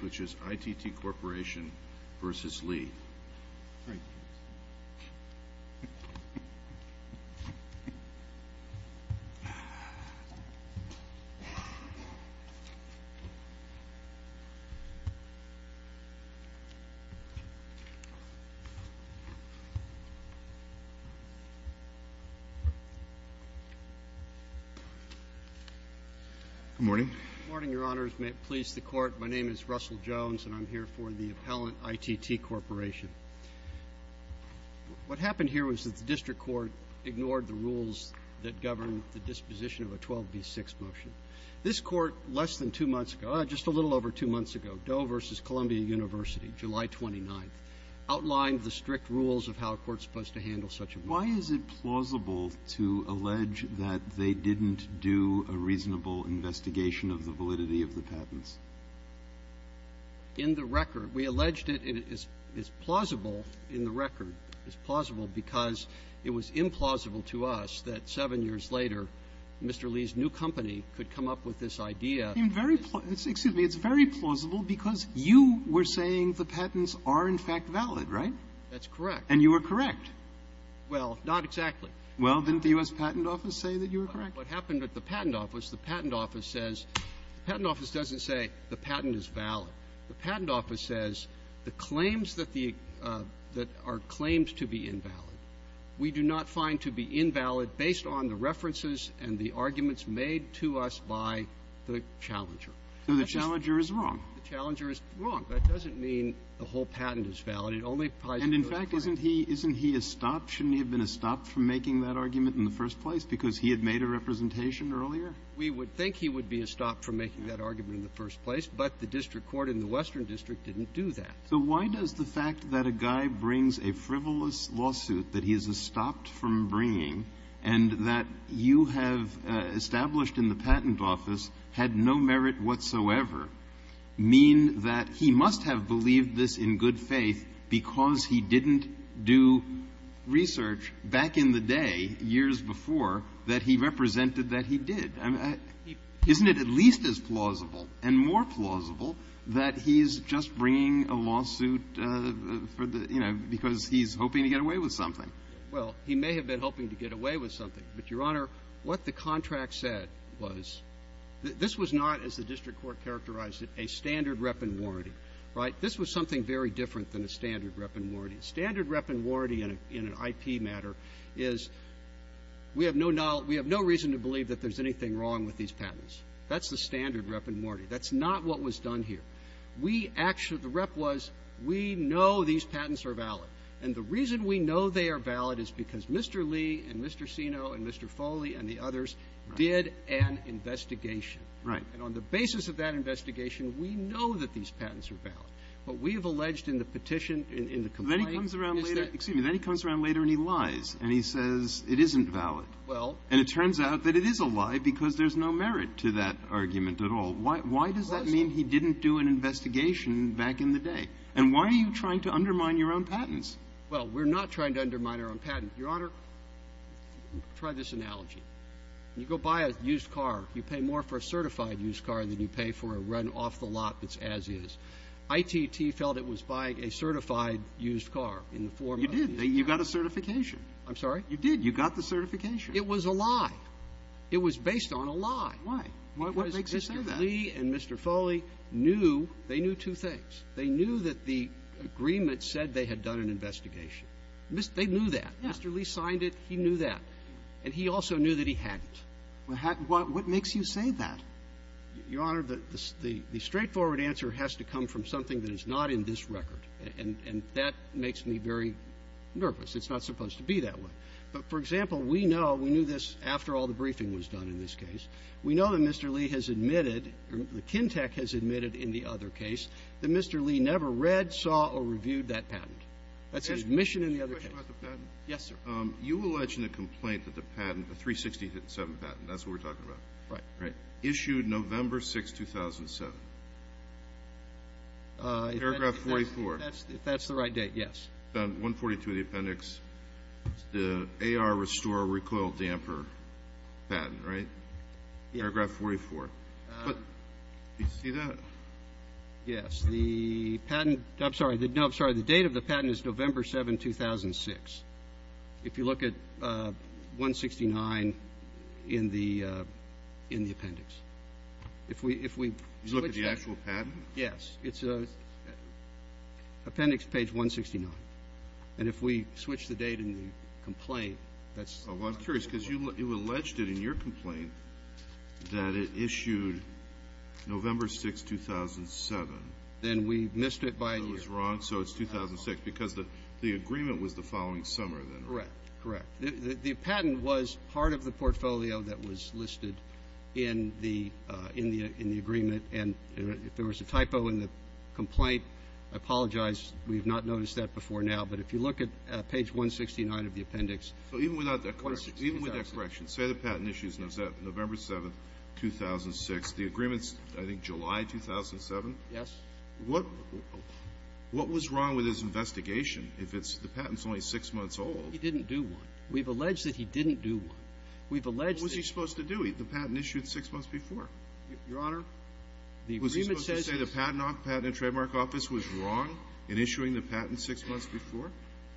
which is ITT Corporation v. Lee. Good morning, your honors. May it please the court, my name is Russell Jones and I'm here for the appellant ITT Corporation. What happened here was that the district court ignored the rules that govern the disposition of a 12b6 motion. This court less than two months ago, just a little over two months ago, Doe v. Columbia University, July 29th, outlined the strict rules of how a court is supposed to handle such a motion. Why is it plausible to allege that they didn't do a reasonable investigation of the validity of the patents? In the record, we alleged it is plausible in the record, it's plausible because it was implausible to us that seven years later, Mr. Lee's new company could come up with this idea. It's very plausible because you were saying the patents are in fact valid, right? That's correct. And you were correct. Well, not exactly. Well, didn't the U.S. Patent Office say that you were correct? What happened at the Patent Office, the Patent Office says the Patent Office doesn't say the patent is valid. The Patent Office says the claims that the – that are claims to be invalid, we do not find to be invalid based on the references and the arguments made to us by the challenger. So the challenger is wrong. The challenger is wrong. That doesn't mean the whole patent is valid. It only applies to the claim. And, in fact, isn't he – isn't he a stop? Shouldn't he have been a stop from making that argument in the first place? Because he had made a representation earlier? We would think he would be a stop from making that argument in the first place. But the district court in the Western District didn't do that. So why does the fact that a guy brings a frivolous lawsuit that he is a stopped-from-bringing and that you have established in the Patent Office had no merit whatsoever mean that he must have believed this in good faith because he didn't do research back in the day, years before, that he represented that he did? I mean, isn't it at least as plausible and more plausible that he's just bringing a lawsuit for the – you know, because he's hoping to get away with something? Well, he may have been hoping to get away with something. But, Your Honor, what the contract said was, this was not, as the district court characterized it, a standard rep and warranty, right? This was something very different than a standard rep and warranty. A standard rep and warranty in an IP matter is, we have no – we have no reason to believe that there's anything wrong with these patents. That's the standard rep and warranty. That's not what was done here. We actually – the rep was, we know these patents are valid. And the reason we know they are valid is because Mr. Lee and Mr. Sino and Mr. Foley and the others did an investigation. Right. And on the basis of that investigation, we know that these patents are valid. But we have alleged in the petition, in the complaint – He comes around later – excuse me. Then he comes around later and he lies. And he says it isn't valid. Well – And it turns out that it is a lie because there's no merit to that argument at all. Why does that mean he didn't do an investigation back in the day? And why are you trying to undermine your own patents? Well, we're not trying to undermine our own patent. Your Honor, try this analogy. You go buy a used car. You pay more for a certified used car than you pay for a run-off-the-lot that's as-is. ITT felt it was buying a certified used car in the form of a used car. You did. You got a certification. I'm sorry? You did. You got the certification. It was a lie. It was based on a lie. Why? What makes you say that? Because Mr. Lee and Mr. Foley knew – they knew two things. They knew that the agreement said they had done an investigation. They knew that. Mr. Lee signed it. He knew that. And he also knew that he hadn't. What makes you say that? Your Honor, the straightforward answer has to come from something that is not in this record. And that makes me very nervous. It's not supposed to be that way. But, for example, we know – we knew this after all the briefing was done in this case. We know that Mr. Lee has admitted – or the Kintec has admitted in the other case that Mr. Lee never read, saw, or reviewed that patent. That's an admission in the other case. Yes, sir. You allege in a complaint that the patent, the 367 patent – that's what we're talking about. Right. Right. Issued November 6, 2007. Paragraph 44. If that's the right date, yes. 142 of the appendix. The AR restore recoil damper patent, right? Yeah. Paragraph 44. But do you see that? Yes. The patent – I'm sorry. No, I'm sorry. The date of the patent is November 7, 2006. If you look at 169 in the appendix. If we switch – You look at the actual patent? Yes. It's appendix page 169. And if we switch the date in the complaint, that's – Well, I'm curious, because you alleged it in your complaint that it issued November 6, 2007. Then we missed it by a year. So it was wrong. So it's 2006. Because the agreement was the following summer, then, right? Correct. Correct. The patent was part of the portfolio that was listed in the agreement. And if there was a typo in the complaint, I apologize. We have not noticed that before now. But if you look at page 169 of the appendix. So even without that correction – 169. Even without that correction, say the patent issues November 7, 2006. The agreement's, I think, July 2007? Yes. What was wrong with his investigation if the patent's only six months old? He didn't do one. We've alleged that he didn't do one. We've alleged that – What was he supposed to do? The patent issued six months before. Your Honor, the agreement says – Was he supposed to say the Patent and Trademark Office was wrong in issuing the patent six months before?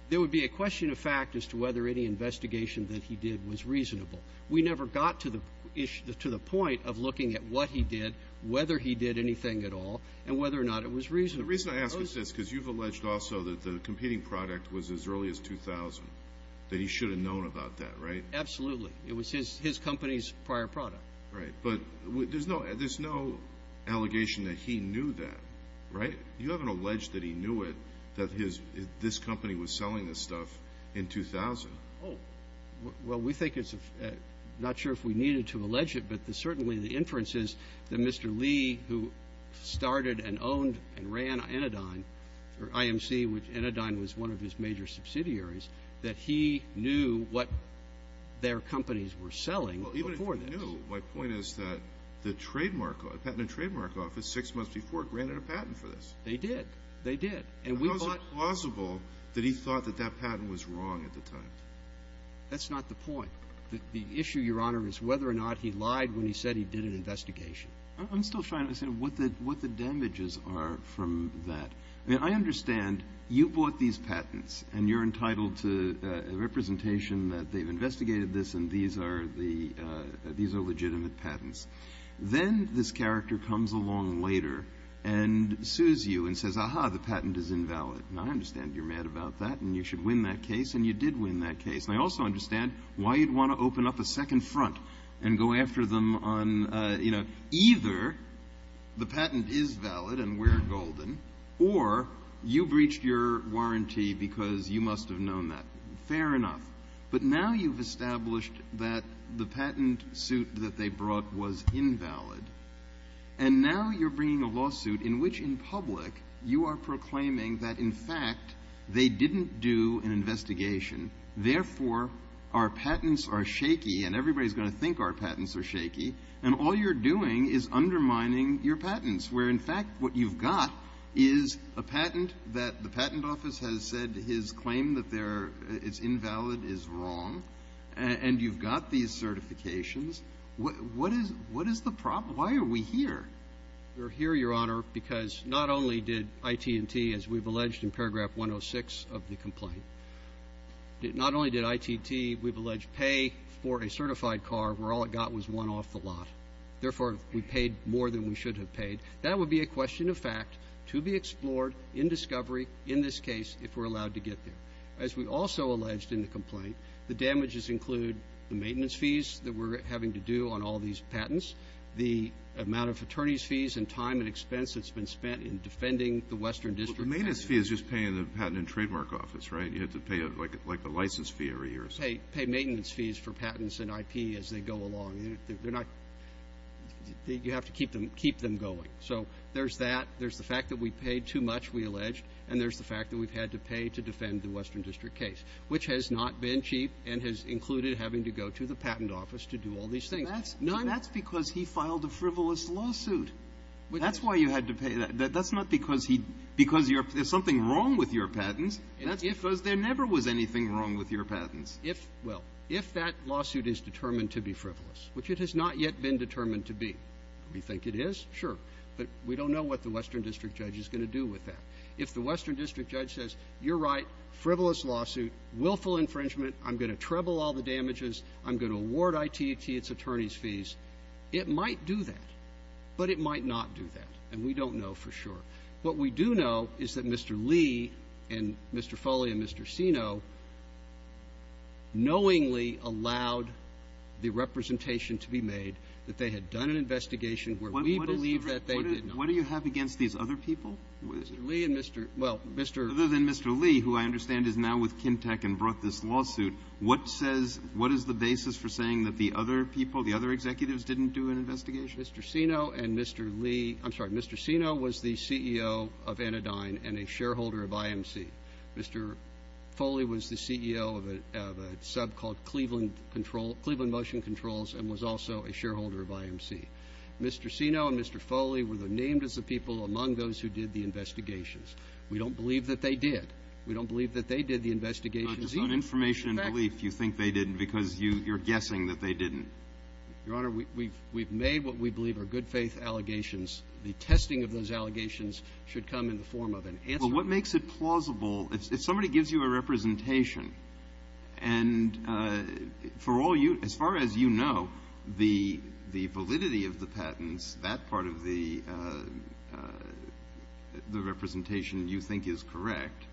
There would be a question of fact as to whether any investigation that he did was reasonable. We never got to the point of looking at what he did, whether he did anything at all, and whether or not it was reasonable. The reason I ask is this, because you've alleged also that the competing product was as early as 2000, that he should have known about that, right? Absolutely. It was his company's prior product. Right. But there's no allegation that he knew that, right? You haven't alleged that he knew it, that this company was selling this stuff in 2000. Oh. Well, we think it's – not sure if we needed to allege it, but certainly the inference is that Mr. Lee, who started and owned and ran Anodyne, or IMC, which Anodyne was one of his major subsidiaries, that he knew what their companies were selling before this. Well, even if he knew, my point is that the Trademark – the Patent and Trademark Office, six months before, granted a patent for this. They did. They did. And we thought – How is it plausible that he thought that that patent was wrong at the time? That's not the point. The issue, Your Honor, is whether or not he lied when he said he did an investigation. I'm still trying to understand what the damages are from that. I mean, I understand you bought these patents, and you're entitled to a representation that they've investigated this, and these are the – these are legitimate patents. Then this character comes along later and sues you and says, aha, the patent is invalid. Now, I understand you're mad about that, and you should win that case, and you did win that case. And I also understand why you'd want to open up a second front and go after them on, you know, either the patent is valid and we're golden, or you breached your warranty because you must have known that. Fair enough. But now you've established that the patent suit that they brought was invalid, and now you're bringing a lawsuit in which, in public, you are proclaiming that, in fact, they didn't do an investigation. Therefore, our patents are shaky, and everybody's going to think our patents are shaky, and all you're doing is undermining your patents, where, in fact, what you've got is a patent that the patent office has said his claim that they're – it's invalid is wrong, and you've got these certifications. What is – what is the problem? Why are we here? We're here, Your Honor, because not only did IT&T, as we've alleged in paragraph 106 of the complaint, not only did IT&T, we've alleged pay for a certified car where all it got was one off the lot. Therefore, we paid more than we should have paid. That would be a question of fact to be explored in discovery in this case if we're allowed to get there. As we also alleged in the complaint, the damages include the maintenance fees that we're having to do on all these patents, the amount of attorney's fees and time and expense that's been spent in defending the Western District. Well, the maintenance fee is just paying the Patent and Trademark Office, right? You have to pay, like, a license fee every year or something. You have to pay maintenance fees for patents and IP as they go along. They're not – you have to keep them going. So there's that. There's the fact that we paid too much, we alleged, and there's the fact that we've had to pay to defend the Western District case, which has not been cheap and has included having to go to the Patent Office to do all these things. That's – None – That's because he filed a frivolous lawsuit. That's why you had to pay – that's not because he – because there's something wrong with your patents. That's because there never was anything wrong with your patents. If – well, if that lawsuit is determined to be frivolous, which it has not yet been determined to be – we think it is, sure, but we don't know what the Western District judge is going to do with that. If the Western District judge says, you're right, frivolous lawsuit, willful infringement, I'm going to treble all the damages, I'm going to award ITT its attorney's fees, it might do that, but it might not do that, and we don't know for sure. What we do know is that Mr. Lee and Mr. Foley and Mr. Sino knowingly allowed the representation to be made that they had done an investigation where we believe that they did not. What do you have against these other people? Mr. Lee and Mr. – well, Mr. – Other than Mr. Lee, who I understand is now with Kintec and brought this lawsuit, what says – what is the basis for saying that the other people, the other executives didn't do an investigation? Mr. Sino and Mr. Lee – I'm sorry, Mr. Sino was the CEO of Anodyne and a shareholder of IMC. Mr. Foley was the CEO of a sub called Cleveland Control – Cleveland Motion Controls and was also a shareholder of IMC. Mr. Sino and Mr. Foley were named as the people among those who did the investigations. We don't believe that they did. We don't believe that they did the investigations either. Just on information and belief, you think they didn't because you're guessing that they didn't. Your Honor, we've made what we believe are good faith allegations. The testing of those allegations should come in the form of an answer. But what makes it plausible – if somebody gives you a representation and for all you – as far as you know, the validity of the patents, that part of the representation you think is correct,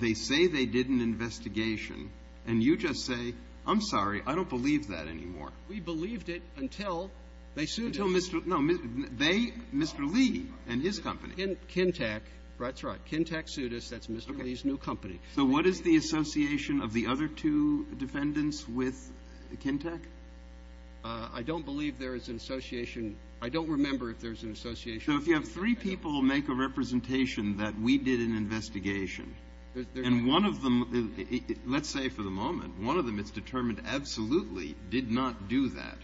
they say they did an investigation and you just say, I'm sorry, I don't believe that anymore. We believed it until they sued us. Until Mr. – no, they – Mr. Lee and his company. Kintec. That's right. Kintec sued us. That's Mr. Lee's new company. So what is the association of the other two defendants with Kintec? I don't believe there is an association. I don't remember if there's an association. So if you have three people make a representation that we did an investigation and one of them Let's say for the moment, one of them it's determined absolutely did not do that.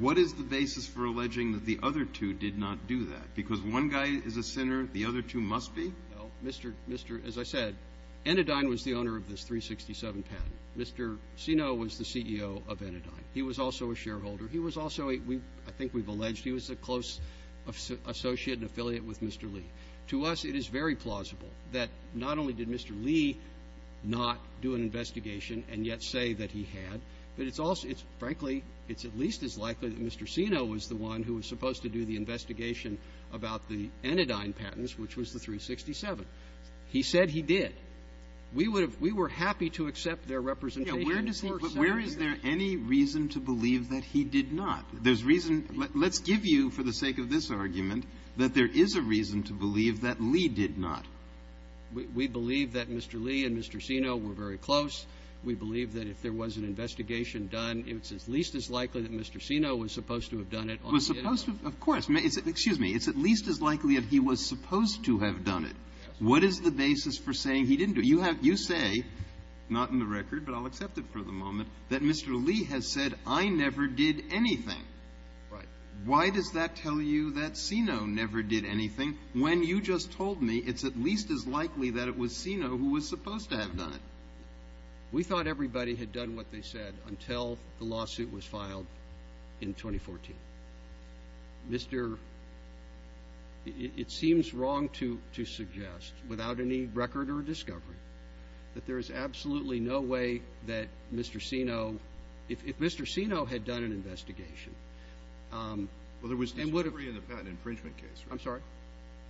What is the basis for alleging that the other two did not do that? Because one guy is a sinner, the other two must be? Mr. – as I said, Enidine was the owner of this 367 patent. Mr. Sino was the CEO of Enidine. He was also a shareholder. He was also a – I think we've alleged he was a close associate and affiliate with Mr. Lee. To us, it is very plausible that not only did Mr. Lee not do an investigation and yet say that he had, but it's also – it's – frankly, it's at least as likely that Mr. Sino was the one who was supposed to do the investigation about the Enidine patents, which was the 367. He said he did. We would have – we were happy to accept their representation. Where does he – where is there any reason to believe that he did not? There's reason – let's give you, for the sake of this argument, that there is a reason to believe that Lee did not. We believe that Mr. Lee and Mr. Sino were very close. We believe that if there was an investigation done, it's at least as likely that Mr. Sino was supposed to have done it on the Enidine. Was supposed to – of course. Excuse me. It's at least as likely that he was supposed to have done it. What is the basis for saying he didn't do it? You have – you say, not in the record, but I'll accept it for the moment, that Mr. Lee has said, I never did anything. Right. Why does that tell you that Sino never did anything, when you just told me it's at least as likely that it was Sino who was supposed to have done it? We thought everybody had done what they said until the lawsuit was filed in 2014. Mr. – it seems wrong to suggest, without any record or discovery, that there is Well, there was discovery in the patent infringement case, right? I'm sorry?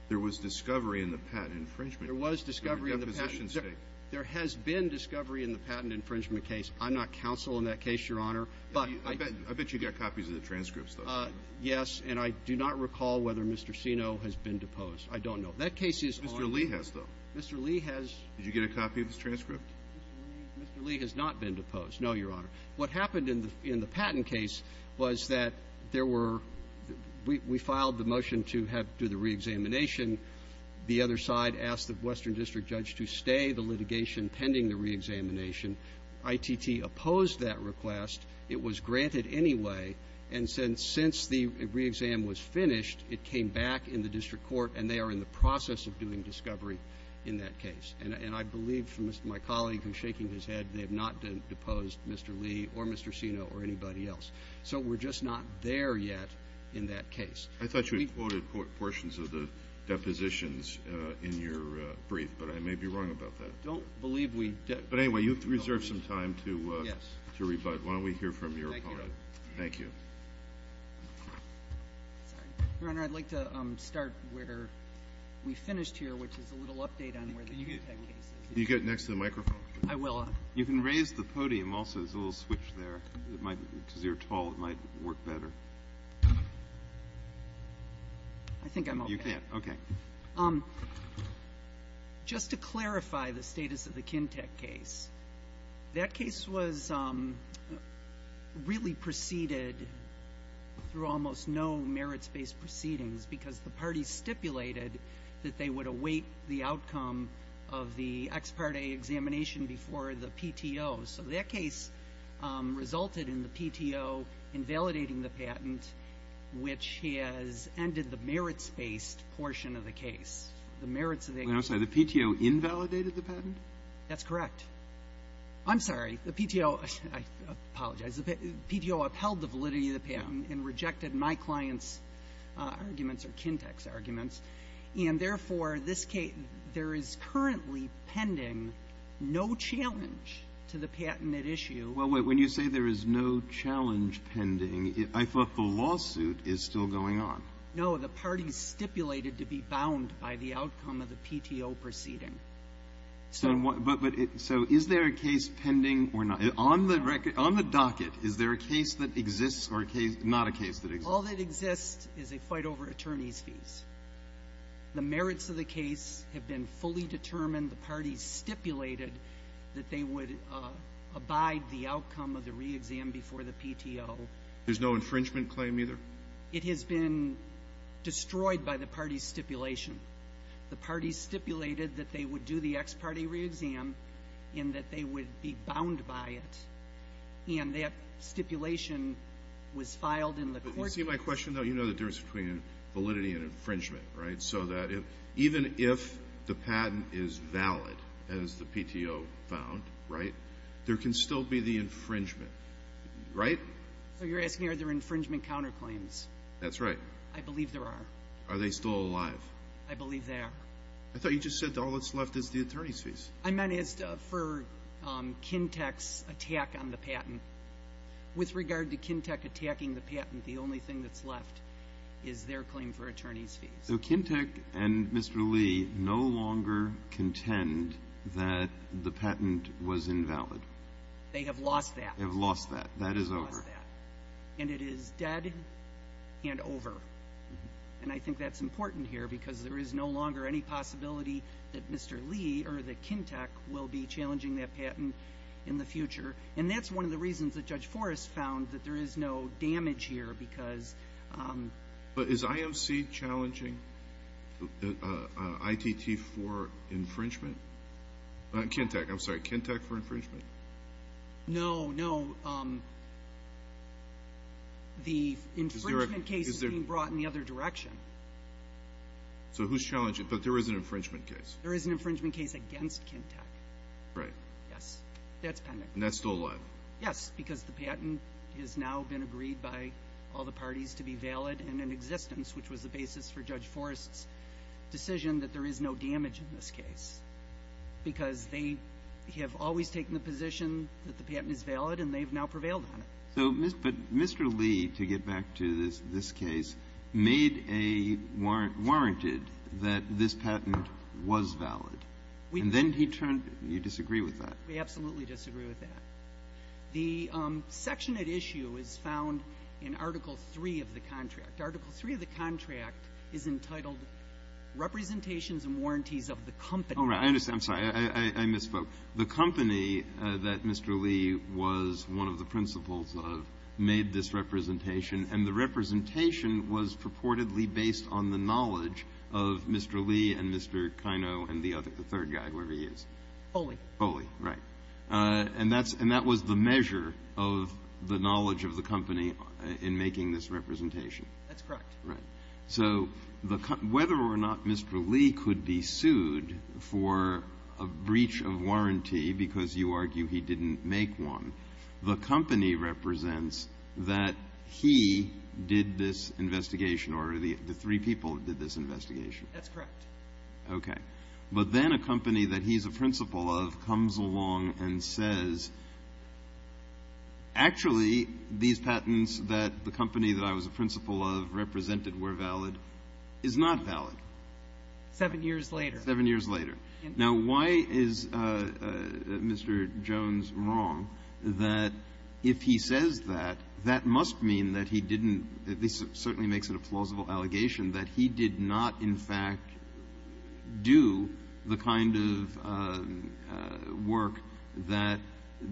There was discovery in the patent infringement case. There was discovery in the patent – There were depositions made. There has been discovery in the patent infringement case. I'm not counsel in that case, Your Honor. But I – I bet you got copies of the transcripts, though. Yes, and I do not recall whether Mr. Sino has been deposed. I don't know. That case is on – Mr. Lee has, though. Mr. Lee has – Did you get a copy of his transcript? Mr. Lee has not been deposed, no, Your Honor. What happened in the patent case was that there were – we filed the motion to have – to do the reexamination. The other side asked the Western District judge to stay the litigation pending the reexamination. ITT opposed that request. It was granted anyway. And since the reexam was finished, it came back in the district court, and they are in the process of doing discovery in that case. And I believe from my colleague who's shaking his head, they have not deposed Mr. Lee or Mr. Sino or anybody else. So we're just not there yet in that case. I thought you had quoted portions of the depositions in your brief, but I may be wrong about that. I don't believe we – But anyway, you have to reserve some time to rebut. Why don't we hear from your opponent? Thank you, Your Honor. Your Honor, I'd like to start where we finished here, which is a little update on where the Kintec case is. Can you get next to the microphone? I will. You can raise the podium also. There's a little switch there. It might – because you're tall, it might work better. I think I'm okay. You can. Okay. Just to clarify the status of the Kintec case, that case was really preceded through almost no merits-based proceedings because the parties stipulated that they would await the outcome of the ex parte examination before the PTO. So that case resulted in the PTO invalidating the patent, which has ended the merits-based portion of the case. The merits of the – I'm sorry. The PTO invalidated the patent? That's correct. I'm sorry. The PTO – I apologize. The PTO upheld the validity of the patent and rejected my client's arguments or Kintec's arguments. And therefore, this case – there is currently pending no challenge to the patent at issue. Well, wait. When you say there is no challenge pending, I thought the lawsuit is still going on. No. The parties stipulated to be bound by the outcome of the PTO proceeding. So – But – so is there a case pending or not? On the record – on the docket, is there a case that exists or a case – not a case that exists? All that exists is a fight over attorneys' fees. The merits of the case have been fully determined. The parties stipulated that they would abide the outcome of the reexam before the PTO. There's no infringement claim either? It has been destroyed by the parties' stipulation. The parties stipulated that they would do the ex parte reexam and that they would be bound by it. And that stipulation was filed in the court – You see my question, though? You know the difference between validity and infringement, right? So that even if the patent is valid, as the PTO found, right, there can still be the infringement, right? So you're asking are there infringement counterclaims? That's right. I believe there are. Are they still alive? I believe they are. I thought you just said all that's left is the attorneys' fees. I meant as for Kintec's attack on the patent. With regard to Kintec attacking the patent, the only thing that's left is their claim for attorneys' fees. So Kintec and Mr. Lee no longer contend that the patent was invalid? They have lost that. They have lost that. That is over. And it is dead and over. And I think that's important here because there is no longer any possibility that Mr. Lee or that Kintec will be challenging that patent in the future. And that's one of the reasons that Judge Forrest found that there is no damage here because... But is IMC challenging ITT for infringement? Kintec, I'm sorry. Kintec for infringement? No, no. The infringement case is being brought in the other direction. So who's challenging? But there is an infringement case. There is an infringement case against Kintec. Right. Yes. That's pending. And that's still alive? Yes, because the patent has now been agreed by all the parties to be valid and in existence, which was the basis for Judge Forrest's decision that there is no damage in this case, because they have always taken the position that the patent is valid and they have now prevailed on it. So, but Mr. Lee, to get back to this case, made a warrant, warranted that this patent was valid, and then he turned, you disagree with that? We absolutely disagree with that. The section at issue is found in Article III of the contract. Article III of the contract is entitled Representations and Warranties of the Company. Oh, right. I understand. I'm sorry. I misspoke. The company that Mr. Lee was one of the principals of made this representation, and the representation was purportedly based on the knowledge of Mr. Lee and Mr. Kaino and the other, the third guy, whoever he is. Foley. Foley, right. And that was the measure of the knowledge of the company in making this representation. That's correct. Right. So whether or not Mr. Lee could be sued for a breach of warranty because you argue he didn't make one, the company represents that he did this investigation or the three people did this investigation. That's correct. Okay. But then a company that he's a principal of comes along and says, actually, these patents that the company that I was a principal of represented were valid is not valid. Seven years later. Seven years later. Now, why is Mr. Jones wrong that if he says that, that must mean that he didn't, this certainly makes it a plausible allegation that he did not, in fact, do the kind of work that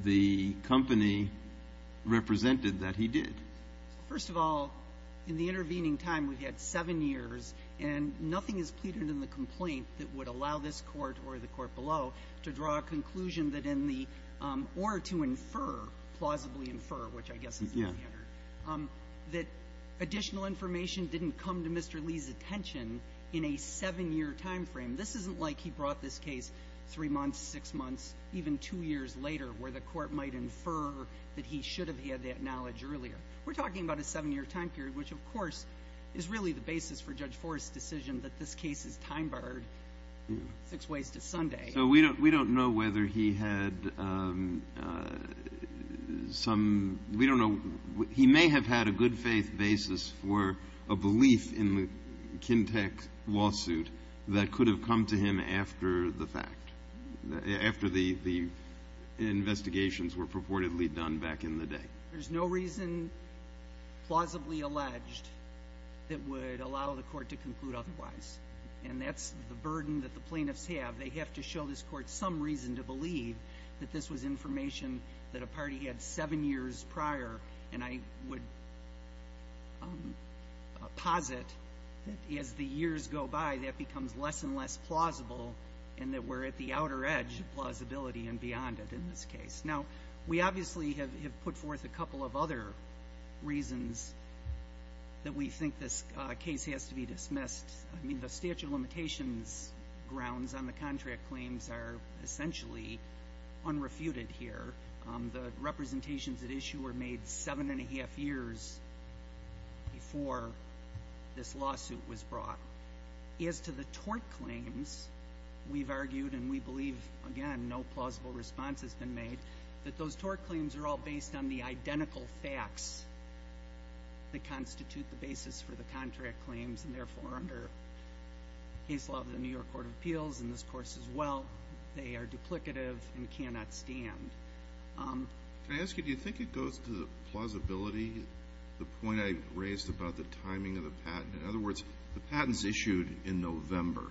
the company represented that he did? First of all, in the intervening time, we've had seven years and nothing is pleaded in the complaint that would allow this court or the court below to draw a conclusion that in the, or to infer, plausibly infer, which I guess is the standard, that additional information didn't come to Mr. Lee's attention in a seven year time frame. This isn't like he brought this case three months, six months, even two years later where the court might infer that he should have had that knowledge earlier. We're talking about a seven year time period, which of course is really the basis for Judge Forrest's decision that this case is time barred six ways to Sunday. So we don't, we don't know whether he had some, we don't know, he may have had a good faith basis for a belief in the Kintec lawsuit that could have come to him after the fact, after the, the investigations were purportedly done back in the day. There's no reason, plausibly alleged, that would allow the court to conclude otherwise. And that's the burden that the plaintiffs have. They have to show this court some reason to believe that this was information that a party had seven years prior. And I would posit that as the years go by, that becomes less and less plausible, and that we're at the outer edge of plausibility and beyond it in this case. Now, we obviously have put forth a couple of other reasons that we think this case has to be dismissed. I mean, the statute of limitations grounds on the contract claims are essentially unrefuted here. The representations at issue were made seven and a half years before this lawsuit was brought. As to the tort claims, we've argued, and we believe, again, no plausible response has been made, that those tort claims are all based on the identical facts that constitute the basis for the contract claims, and therefore, under case law of the New York Court of Appeals and this course as well, they are duplicative and cannot stand. Can I ask you, do you think it goes to the plausibility, the point I raised about the timing of the patent? In other words, the patent's issued in November.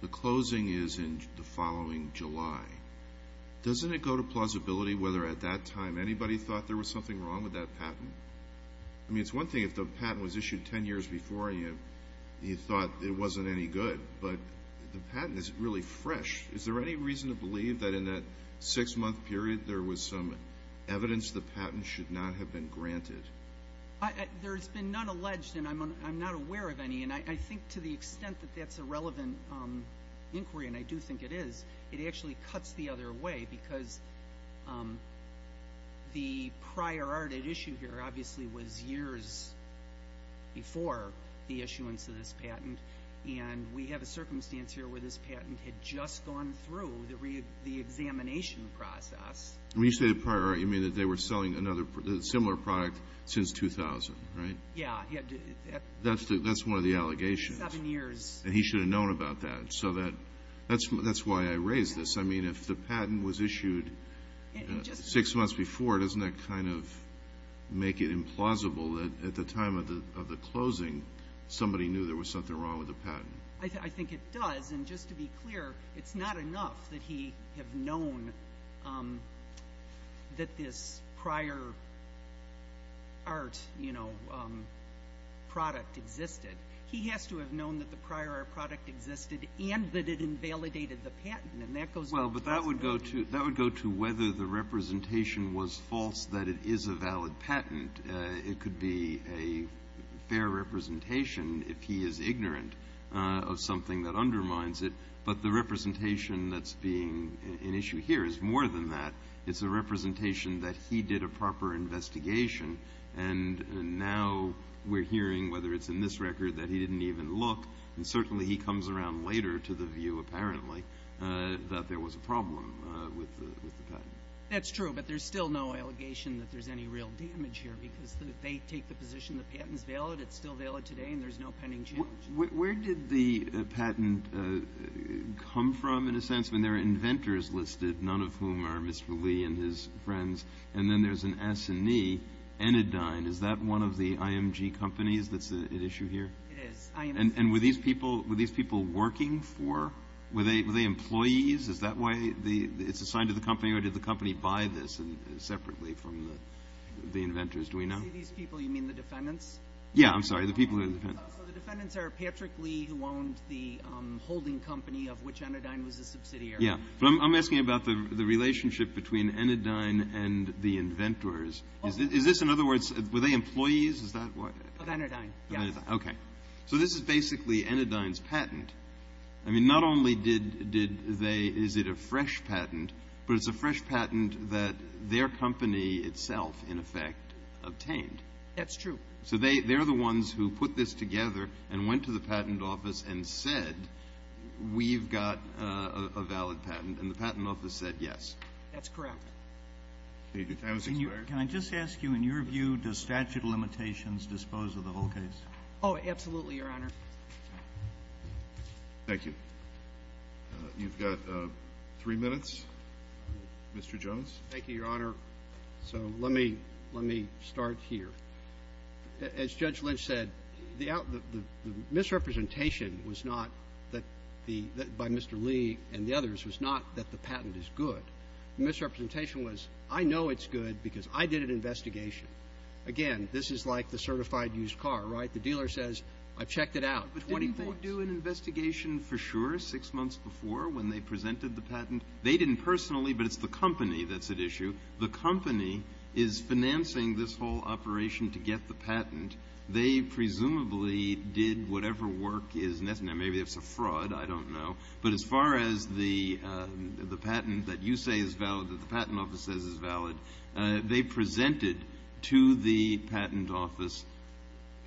The closing is in the following July. Doesn't it go to plausibility whether at that time anybody thought there was something wrong with that patent? I mean, it's one thing if the patent was issued ten years before and you thought it wasn't any good, but the patent is really fresh. Is there any reason to believe that in that six-month period there was some evidence the patent should not have been granted? There's been none alleged, and I'm not aware of any, and I think to the extent that that's a relevant inquiry, and I do think it is, it actually cuts the other way because the prior art at issue here obviously was years before the issuance of this patent, and we have a circumstance here where this patent had just gone through the examination process. When you say the prior art, you mean that they were selling another similar product since 2000, right? Yeah. That's one of the allegations. Seven years. And he should have known about that, so that's why I raise this. I mean, if the patent was issued six months before, doesn't that kind of make it implausible that at the time of the closing somebody knew there was something wrong with the patent? I think it does, and just to be clear, it's not enough that he have known that this prior art product existed. He has to have known that the prior art product existed and that it invalidated the patent, and that goes back to the presentation. Well, but that would go to whether the representation was false that it is a valid patent. It could be a fair representation if he is ignorant of something that undermines it, but the representation that's being an issue here is more than that. It's a representation that he did a proper investigation, and now we're hearing, whether it's in this record that he didn't even look, and certainly he comes around later to the view, apparently, that there was a problem with the patent. That's true, but there's still no allegation that there's any real damage here, because if they take the position that the patent is valid, it's still valid today, and there's no pending challenge. Where did the patent come from, in a sense, when there are inventors listed, none of whom are Mr. Lee and his friends, and then there's an S&E, Enidine, is that one of the IMG companies that's at issue here? It is. And were these people working for, were they employees, is that why it's assigned to the company, or did the company buy this separately from the inventors, do we know? When you say these people, you mean the defendants? Yeah, I'm sorry, the people who are the defendants. So the defendants are Patrick Lee, who owned the holding company of which Enidine was a subsidiary. Yeah, but I'm asking about the relationship between Enidine and the inventors. Is this, in other words, were they employees, is that what? Of Enidine, yes. So this is basically Enidine's patent. I mean, not only did they, is it a fresh patent, but it's a fresh patent that their company itself, in effect, obtained. That's true. So they're the ones who put this together and went to the patent office and said, we've got a valid patent, and the patent office said, yes. That's correct. Can I just ask you, in your view, does statute of limitations dispose of the whole case? Oh, absolutely, Your Honor. Thank you. You've got three minutes, Mr. Jones. Thank you, Your Honor. So let me start here. As Judge Lynch said, the misrepresentation was not that the, by Mr. Lee and the others, was not that the patent is good. The misrepresentation was, I know it's good because I did an investigation. Again, this is like the certified used car, right? The dealer says, I've checked it out, 20 points. But didn't they do an investigation for sure six months before when they presented the patent? They didn't personally, but it's the company that's at issue. The company is financing this whole operation to get the patent. They presumably did whatever work is necessary. Now, maybe it's a fraud. I don't know. But as far as the patent that you say is valid, that the patent office says is valid, they presented to the patent office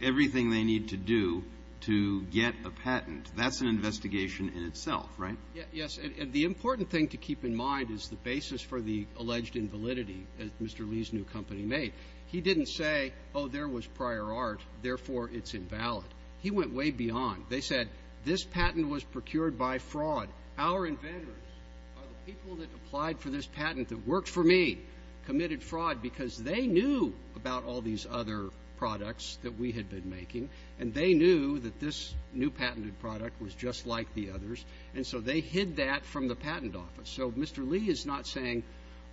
everything they need to do to get a patent. That's an investigation in itself, right? Yes, and the important thing to keep in mind is the basis for the alleged invalidity that Mr. Lee's new company made. He didn't say, oh, there was prior art, therefore it's invalid. He went way beyond. They said, this patent was procured by fraud. Our inventors are the people that applied for this patent that worked for me, committed fraud because they knew about all these other products that we had been making. And they knew that this new patented product was just like the others. And so they hid that from the patent office. So Mr. Lee is not saying,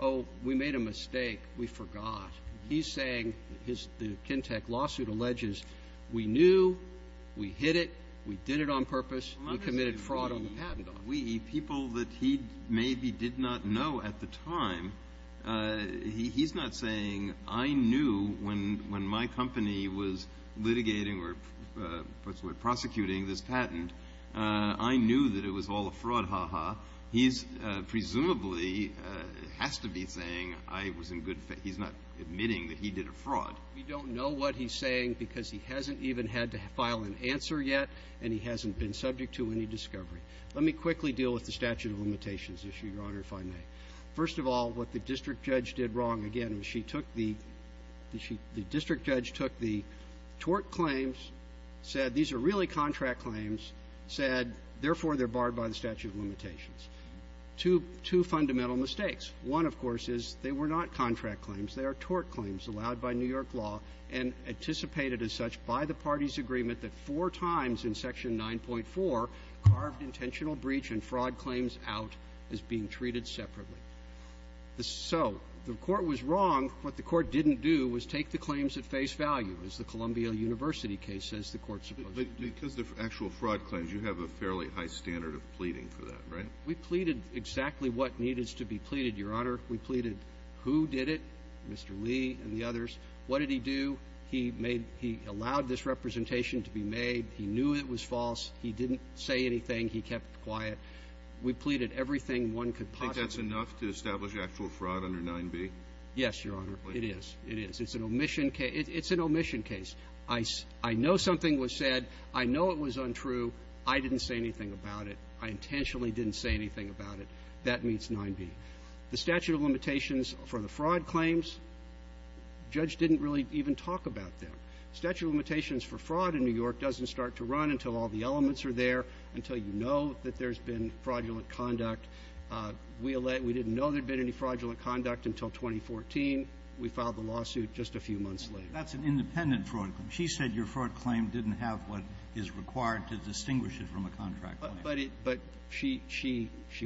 oh, we made a mistake. We forgot. He's saying, the Kintec lawsuit alleges, we knew, we hid it, we did it on purpose, we committed fraud on the patent office. We, people that he maybe did not know at the time, he's not saying, I knew when my company was litigating or prosecuting this patent, I knew that it was all a fraud, ha, ha. He's presumably, has to be saying, I was in good faith, he's not admitting that he did a fraud. We don't know what he's saying because he hasn't even had to file an answer yet, and he hasn't been subject to any discovery. Let me quickly deal with the statute of limitations issue, Your Honor, if I may. First of all, what the district judge did wrong, again, was she took the – the district judge took the tort claims, said, these are really contract claims, said, therefore, they're barred by the statute of limitations. Two – two fundamental mistakes. One, of course, is they were not contract claims. They are tort claims allowed by New York law and anticipated as such by the parties' agreement that four times in Section 9.4 carved intentional breach and fraud claims out as being treated separately. So the court was wrong. What the court didn't do was take the claims at face value, as the Columbia University case says the court's supposed to do. But because of actual fraud claims, you have a fairly high standard of pleading for that, right? We pleaded exactly what needed to be pleaded, Your Honor. We pleaded who did it, Mr. Lee and the others. What did he do? He made – he allowed this representation to be made. He knew it was false. He didn't say anything. He kept quiet. We pleaded everything one could possibly. Do you think that's enough to establish actual fraud under 9b? Yes, Your Honor. It is. It is. It's an omission case. It's an omission case. I know something was said. I know it was untrue. I didn't say anything about it. I intentionally didn't say anything about it. That meets 9b. The statute of limitations for the fraud claims, the judge didn't really even talk about them. The statute of limitations for fraud in New York doesn't start to run until all the elements are there, until you know that there's been fraudulent conduct. We didn't know there'd been any fraudulent conduct until 2014. We filed the lawsuit just a few months later. That's an independent fraud claim. She said your fraud claim didn't have what is required to distinguish it from a contract claim. But she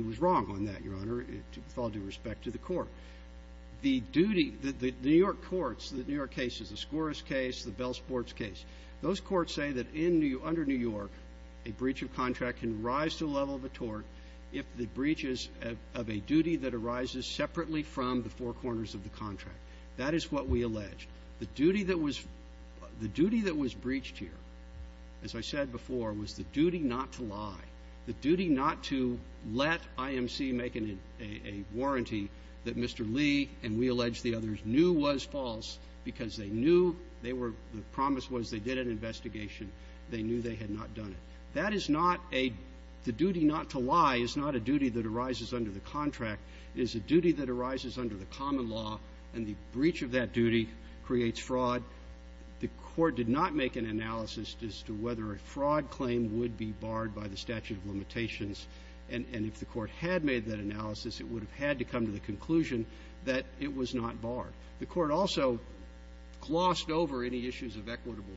was wrong on that, Your Honor, with all due respect to the court. The duty – the New York courts, the New York cases, the Scores case, the Bell Sports case, those courts say that under New York, a breach of contract can rise to a level of breaches of a duty that arises separately from the four corners of the contract. That is what we allege. The duty that was – the duty that was breached here, as I said before, was the duty not to lie, the duty not to let IMC make a warranty that Mr. Lee and we allege the others knew was false because they knew they were – the promise was they did an investigation. They knew they had not done it. That is not a – the duty not to lie is not a duty that arises under the contract. It is a duty that arises under the common law, and the breach of that duty creates fraud. The court did not make an analysis as to whether a fraud claim would be barred by the statute of limitations. And if the court had made that analysis, it would have had to come to the conclusion that it was not barred. The court also glossed over any issues of equitable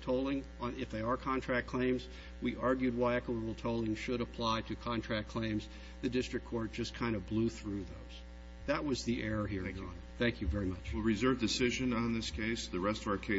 tolling on – if they are contract claims. We argued why equitable tolling should apply to contract claims. The district court just kind of blew through those. That was the error here. Thank you, Your Honor. Thank you very much.